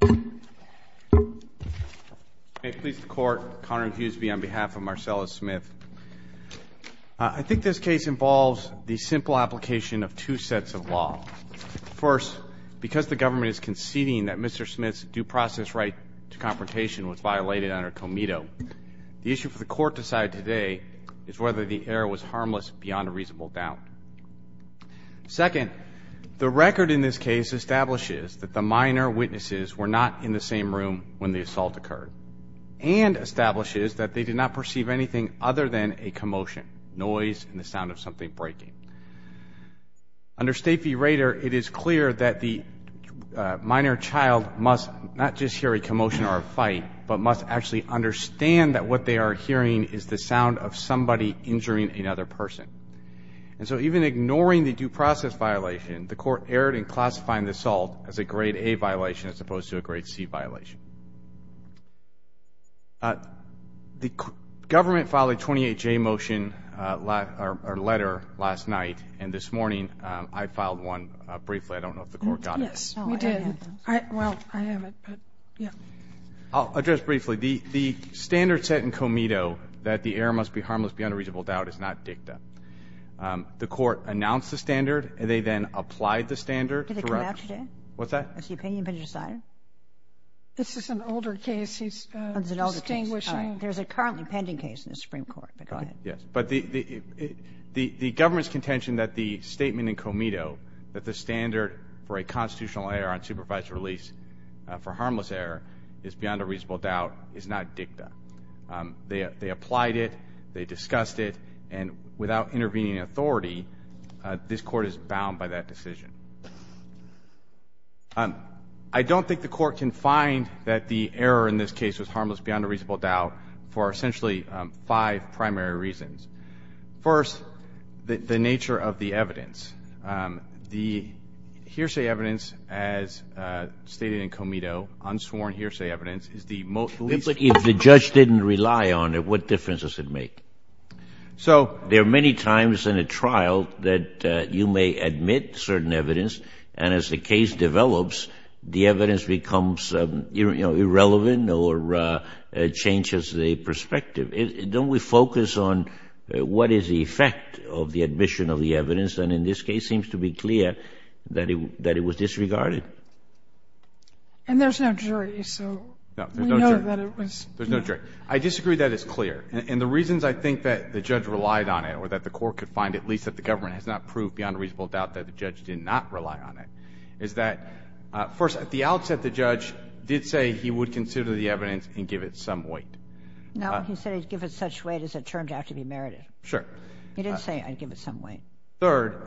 I think this case involves the simple application of two sets of law. First, because the government is conceding that Mr. Smith's due process right to confrontation was violated under Comito, the issue for the court to decide today is whether the error was harmless beyond a reasonable doubt. Second, the record in this case establishes that the minor witnesses were not in the same room when the assault occurred, and establishes that they did not perceive anything other than a commotion, noise, and the sound of something breaking. Under State v. Rader, it is clear that the minor child must not just hear a commotion or a fight, but must actually understand that what they are hearing is the sound of somebody injuring another person. And so even ignoring the due process violation, the court erred in classifying the assault as a grade A violation as opposed to a grade C violation. The government filed a 28-J motion, or letter, last night, and this morning I filed one briefly. I don't know if the court got it. Yes, we did. Well, I haven't. I'll address briefly. The standard set in Comito that the error must be harmless beyond a reasonable doubt is not dicta. The court announced the standard, and they then applied the standard throughout. Did it come out today? What's that? Has the opinion been decided? This is an older case. He's distinguishing. Oh, it's an older case. All right. There's a currently pending case in the Supreme Court, but go ahead. Okay. Yes. But the government's contention that the statement in Comito that the standard for a constitutional error on supervised release for harmless error is beyond a reasonable doubt is not dicta. They applied it. They discussed it. And without intervening authority, this court is bound by that decision. I don't think the court can find that the error in this case was harmless beyond a reasonable doubt for essentially five primary reasons. First, the nature of the evidence. The hearsay evidence is the most... But if the judge didn't rely on it, what difference does it make? So... There are many times in a trial that you may admit certain evidence, and as the case develops, the evidence becomes irrelevant or changes the perspective. Don't we focus on what is the effect of the admission of the evidence? And in this case, it seems to be clear that it was disregarded. And there's no jury, so we know that it was... No. There's no jury. I disagree that it's clear. And the reasons I think that the judge relied on it or that the court could find, at least that the government has not proved beyond a reasonable doubt that the judge did not rely on it, is that first, at the outset, the judge did say he would consider the evidence and give it some weight. No. He said he would give it such weight as it turned out to be merited. Sure. He didn't say I'd give it some weight. Third...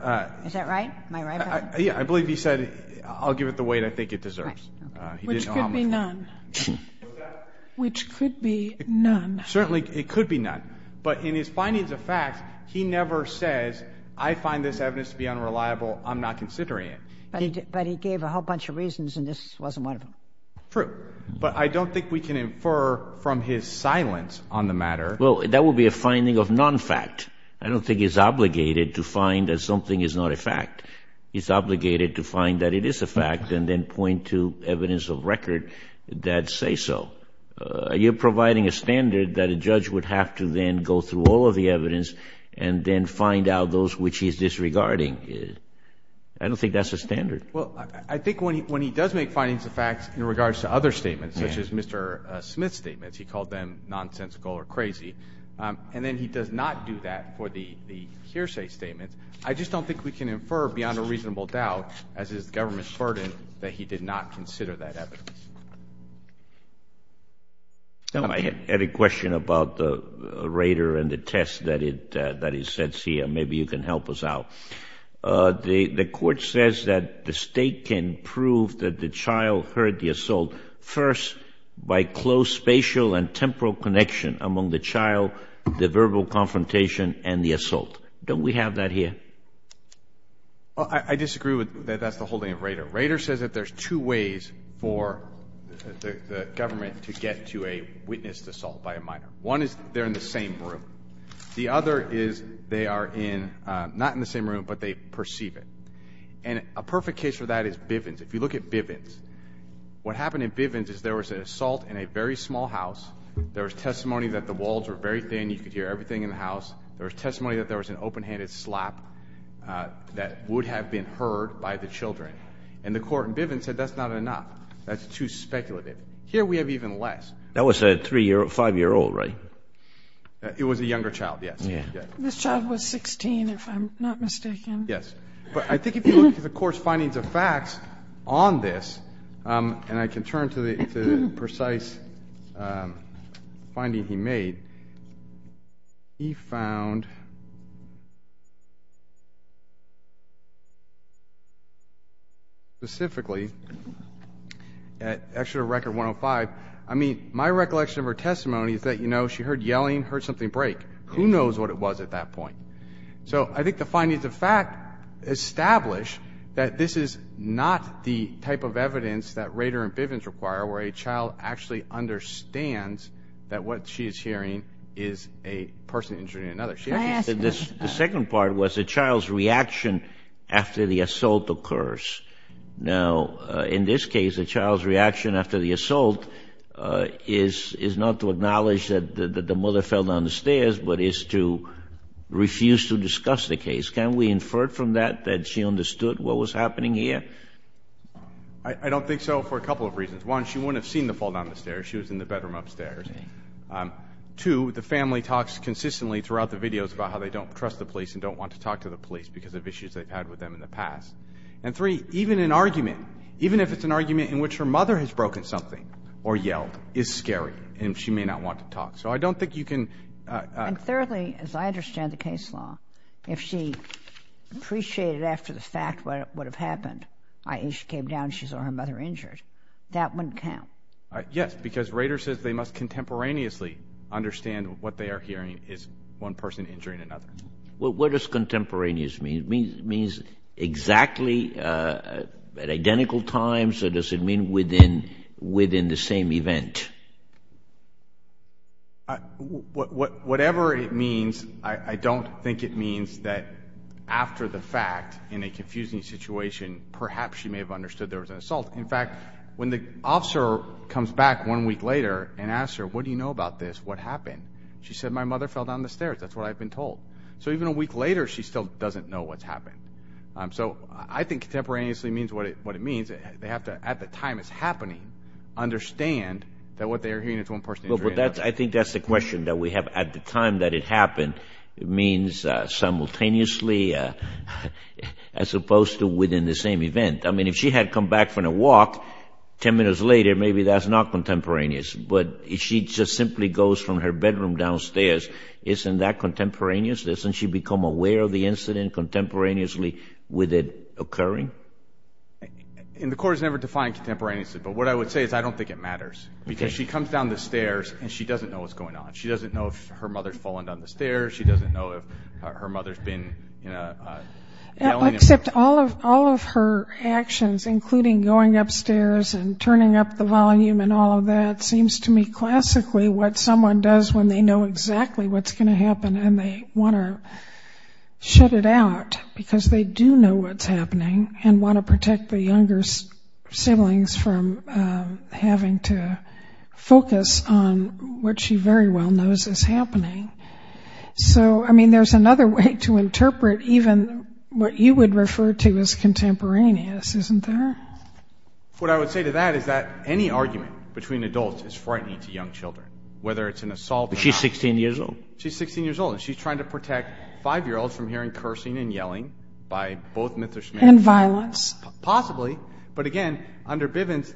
Is that right? Am I right about that? Yeah. I believe he said, I'll give it the weight I think it deserves. Right. He didn't know how much weight. Which could be none. Was that... Which could be none. Certainly, it could be none. But in his findings of facts, he never says, I find this evidence to be unreliable. I'm not considering it. But he gave a whole bunch of reasons, and this wasn't one of them. True. But I don't think we can infer from his silence on the matter... Well, that would be a finding of non-fact. I don't think he's obligated to find that something is not a fact. He's obligated to find that it is a fact and then point to evidence of record that say so. You're providing a standard that a judge would have to then go through all of the evidence and then find out those which he's disregarding. I don't think that's a standard. I think when he does make findings of facts in regards to other statements, such as Mr. Smith's statements, he called them nonsensical or crazy, and then he does not do that for the hearsay statements. I just don't think we can infer, beyond a reasonable doubt, as is the government's burden, that he did not consider that evidence. I had a question about the Rader and the test that he sets here. Maybe you can help us out. The Court says that the State can prove that the child heard the assault first by close spatial and temporal connection among the child, the verbal confrontation, and the assault. Don't we have that here? Well, I disagree with that. That's the whole thing of Rader. Rader says that there's two ways for the government to get to a witnessed assault by a minor. One is they're in the same room. The other is they are not in the same room, but they perceive it. And a perfect case for that is Bivens. If you look at Bivens, what happened in Bivens is there was an assault in a very small house. There was testimony that the walls were very thin. You could hear everything in the house. There was testimony that there was an open-handed slap that would have been heard by the children. And the Court in Bivens said that's not enough. That's too speculative. Here we have even less. That was a 3-year-old, 5-year-old, right? It was a younger child, yes. This child was 16, if I'm not mistaken. Yes. But I think if you look at the Court's findings of facts on this, and I can turn to the precise finding he made, he found specifically, actually at Record 105, I mean, my recollection of her testimony is that she heard yelling, heard something break. Who knows what it was at that point? So I think the findings of fact establish that this is not the type of evidence that Rader and Bivens require where a child actually understands that what she is hearing is a person injuring another. The second part was the child's reaction after the assault occurs. Now, in this case, the child's reaction after the assault is not to acknowledge that the mother fell down the stairs, but is to refuse to discuss the case. Can we infer from that that she understood what was happening here? I don't think so for a couple of reasons. One, she wouldn't have seen the fall down the stairs. She was in the bedroom upstairs. Two, the family talks consistently throughout the videos about how they don't trust the police and don't want to talk to the police because of issues they've had with them in the past. And three, even an argument, even if it's an argument in which her mother has broken something or yelled, is scary and she may not want to talk. So I don't think you can... And thirdly, as I understand the case law, if she appreciated after the fact what had happened, i.e. she came down, she saw her mother injured, that wouldn't count. Yes, because Rader says they must contemporaneously understand what they are hearing is one person injuring another. What does contemporaneous mean? It means exactly at identical times, or does it mean within the same event? Whatever it means, I don't think it means that after the fact, in a confusing situation, perhaps she may have understood there was an assault. In fact, when the officer comes back one week later and asks her, what do you know about this? What happened? She said, my mother fell down the stairs. That's what I've been told. So even a week later, she still doesn't know what's happened. So I think contemporaneously means what it means. They have to, at the time it's happening, understand that what they are hearing is one person injuring another. I think that's the question that we have. At the time that it happened, it means simultaneously, as opposed to within the same event. I mean, if she had come back from the walk, ten minutes later, maybe that's not contemporaneous. But if she just simply goes from her bedroom downstairs, isn't that contemporaneous? Doesn't she become aware of the incident contemporaneously with it occurring? The court has never defined contemporaneously, but what I would say is I don't think it matters. Because she comes down the stairs, and she doesn't know what's going on. She doesn't know if her mother has fallen down the stairs. She doesn't know if her mother has been yelling. Except all of her actions, including going upstairs and turning up the volume and all of that, seems to me classically what someone does when they know exactly what's going to happen and they want to shut it out. Because they do know what's happening and want to protect the younger siblings from having to focus on what she very well knows is happening. So, I mean, there's another way to interpret even what you would refer to as contemporaneous, isn't there? What I would say to that is that any argument between adults is frightening to young children, whether it's an assault. But she's 16 years old. She's 16 years old, and she's trying to protect five-year-olds from hearing cursing and yelling by both Mithra's men. And violence. Possibly. But again, under Bivens,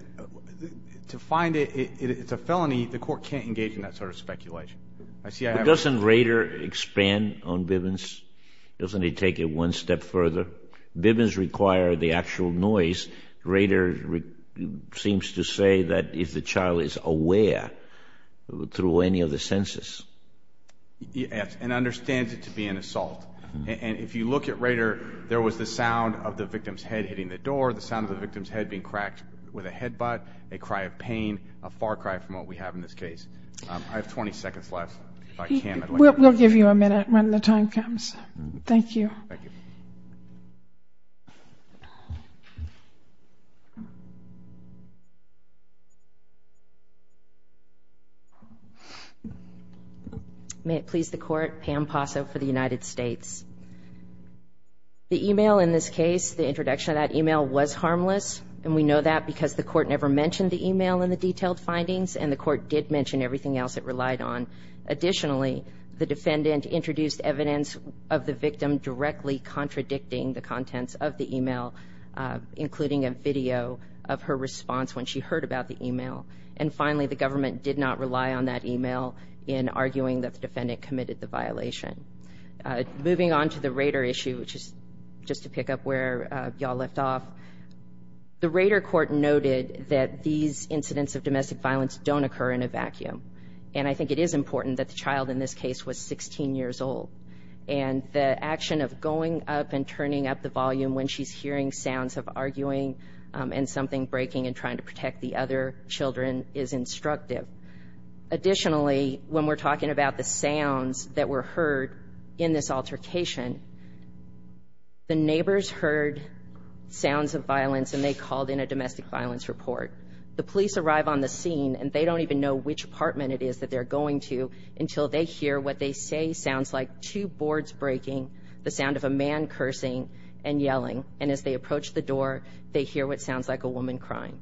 to find it it's a felony. The court can't engage in that sort of speculation. Doesn't Rader expand on Bivens? Doesn't he take it one step further? Bivens require the actual noise. Rader seems to say that if the child is aware through any of the senses. Yes, and understands it to be an assault. And if you look at Rader, there was the sound of the victim's head hitting the door, the sound of the victim's head being cracked with a headbutt, a cry of pain, a far cry from what we have in this case. I have 20 seconds left, if I can. We'll give you a minute when the time comes. Thank you. May it please the Court, Pam Posso for the United States. The email in this case, the introduction of that email, was harmless. And we know that because the court never mentioned the email in the detailed findings. And the court did mention everything else it relied on. Additionally, the defendant introduced evidence of the victim directly contradicting the contents of the email, including a video of her response when she heard about the email. And finally, the government did not rely on that email in arguing that the defendant committed the violation. Moving on to the Rader issue, which is just to pick up where y'all left off, the Rader court noted that these incidents of domestic violence don't occur in a vacuum. And I think it is important that the child in this case was 16 years old. And the action of going up and turning up the volume when she's hearing sounds of arguing and something breaking and trying to protect the other children is instructive. Additionally, when we're talking about the sounds that were heard in this altercation, the neighbors heard sounds of violence and they called in a domestic violence report. The police arrive on the scene and they don't even know which apartment it is that they're going to until they hear what they say sounds like two boards breaking, the sound of a man cursing, and yelling. And as they approach the door, they hear what sounds like a woman crying.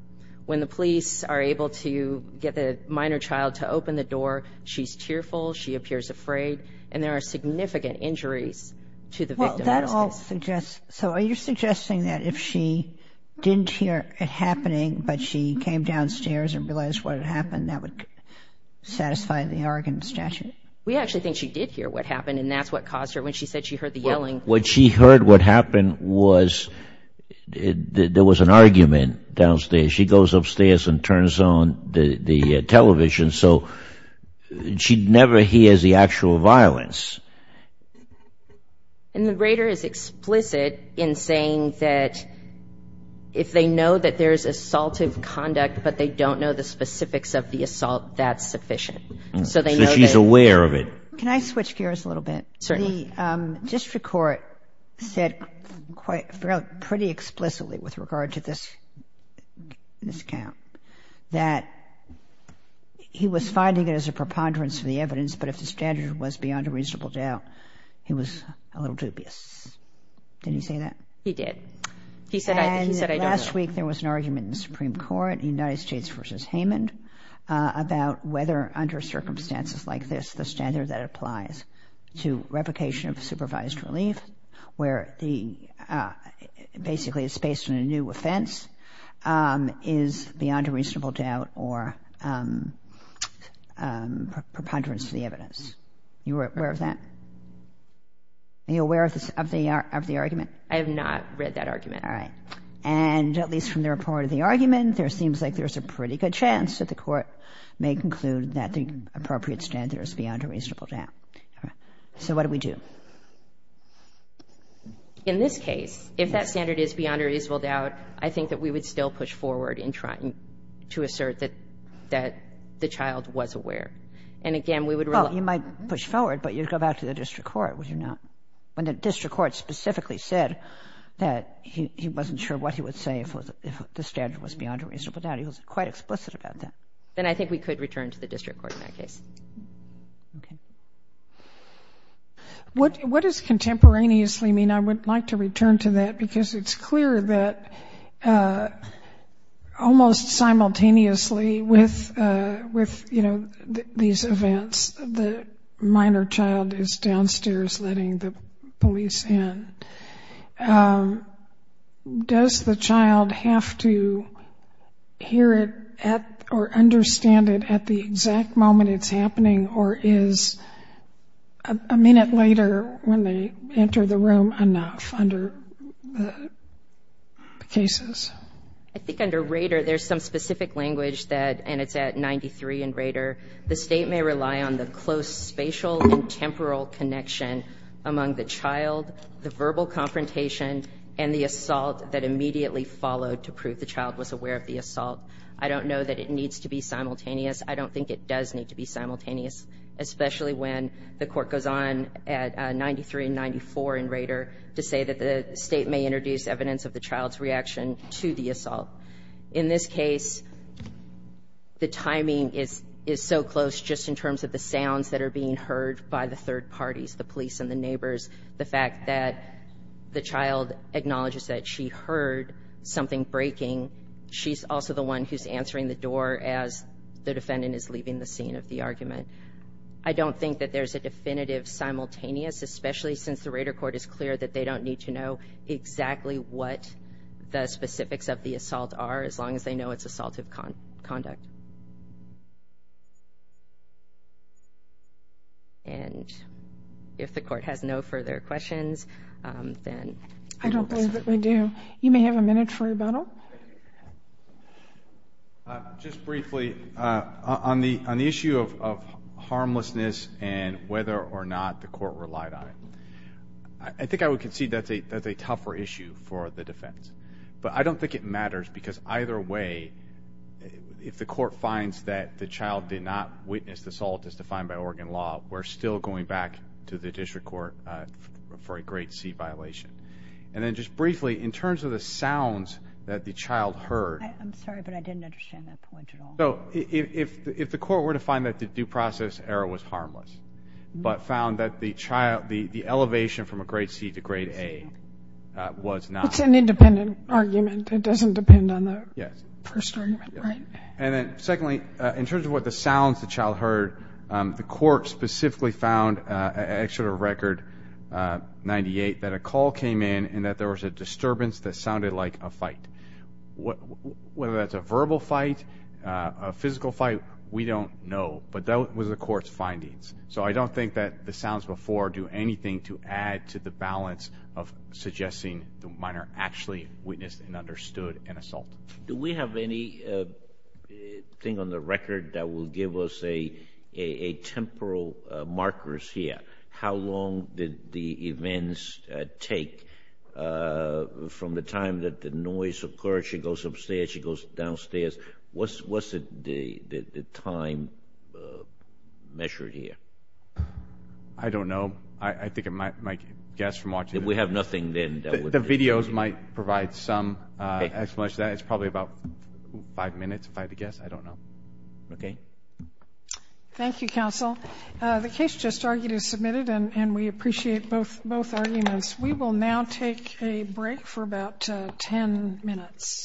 When the police are able to get the minor child to open the door, she's tearful, she appears afraid, and there are no signs of violence. So are you suggesting that if she didn't hear it happening but she came downstairs and realized what had happened, that would satisfy the Oregon statute? We actually think she did hear what happened and that's what caused her. When she said she heard the yelling. What she heard what happened was there was an argument downstairs. She goes upstairs and turns on the television so she never hears the actual violence. And the Raider is explicit in saying that if they know that there's assaultive conduct but they don't know the specifics of the assault, that's sufficient. So she's aware of it. Can I switch gears a little bit? Certainly. The district court said pretty explicitly with regard to this count that he was finding it as a preponderance of the evidence, but if the standard was beyond a reasonable doubt, he was a little dubious. Did he say that? He did. He said I don't know. And last week there was an argument in the Supreme Court, United States v. Heyman, about whether under circumstances like this, the standard that applies to replication of supervised relief, where the basically it's based on a new offense, is beyond a reasonable doubt or preponderance of the evidence. Are you aware of that? Are you aware of the argument? I have not read that argument. And at least from the report of the argument there seems like there's a pretty good chance that the court may conclude that the appropriate standard is beyond a reasonable doubt. So what do we do? In this case, if that standard is beyond a reasonable doubt, I think that we would still push forward in trying to assert that the child was aware. And again, we would rely on the district court. Well, you might push forward, but you'd go back to the district court, would you not? When the district court specifically said that he wasn't sure what he would say if the standard was beyond a reasonable doubt, he was quite explicit about that. Then I think we could return to the district court in that case. What does contemporaneously mean? I would like to return to that because it's clear that almost simultaneously with these events, the minor child is downstairs letting the police in. Does the child have to hear it or understand it at the exact moment it's happening, or is a minute later when they enter the room enough under the cases? I think under Rader, there's some specific language that, and it's at 93 in Rader, the state may rely on the close spatial and temporal connection among the child, the verbal confrontation, and the assault that immediately followed to prove the child was aware of the assault. I don't know that it needs to be simultaneous. I don't think it does need to be simultaneous, especially when the court goes on at 93 and 94 in Rader to say that the state may introduce evidence of the child's reaction to the assault. In this case, the timing is so close just in terms of the sounds that are being heard by the third parties, the police and the neighbors. The fact that the child acknowledges that she heard something breaking, she's also the one who's answering the door as the defendant is leaving the scene of the argument. I don't think that there's a definitive simultaneous, especially since the Rader court is clear that they don't need to know exactly what the specifics of the assault are, as long as they know it's assaultive conduct. And if the court has no further questions, then... I don't believe that we do. You may have a minute for rebuttal. Just briefly, on the issue of harmlessness and whether or not the court relied on it, I think I would concede that's a tougher issue for the defense. But I don't think it matters because either way, if the court finds that the child did not witness the assault as defined by Oregon law, we're still going back to the district court for a grade C violation. And then just briefly, in terms of the sounds that the child heard... I'm sorry, but I didn't understand that point at all. If the court were to find that the due process error was harmless, but found that the elevation from a grade C to grade A was not... It's an independent argument. It doesn't depend on the first argument, right? And then secondly, in terms of what the sounds the child heard, the court specifically found, extra to record 98, that a call came in and that there was a disturbance that sounded like a fight. Whether that's a verbal fight, a physical fight, we don't know. But that was the court's findings. So I don't think that the sounds before do anything to add to the balance of suggesting the minor actually witnessed and understood an assault. Do we have anything on the record that will give us a temporal markers here? How long did the events take from the time that the noise occurred? She goes upstairs, she goes downstairs. What's the time measured here? I don't know. I think it might guess from watching... We have nothing then. The videos might provide some explanation. It's probably about five minutes by the guess. I don't know. Okay. Thank you, counsel. The case just argued is submitted, and we appreciate both arguments. We will now take a break for about ten minutes.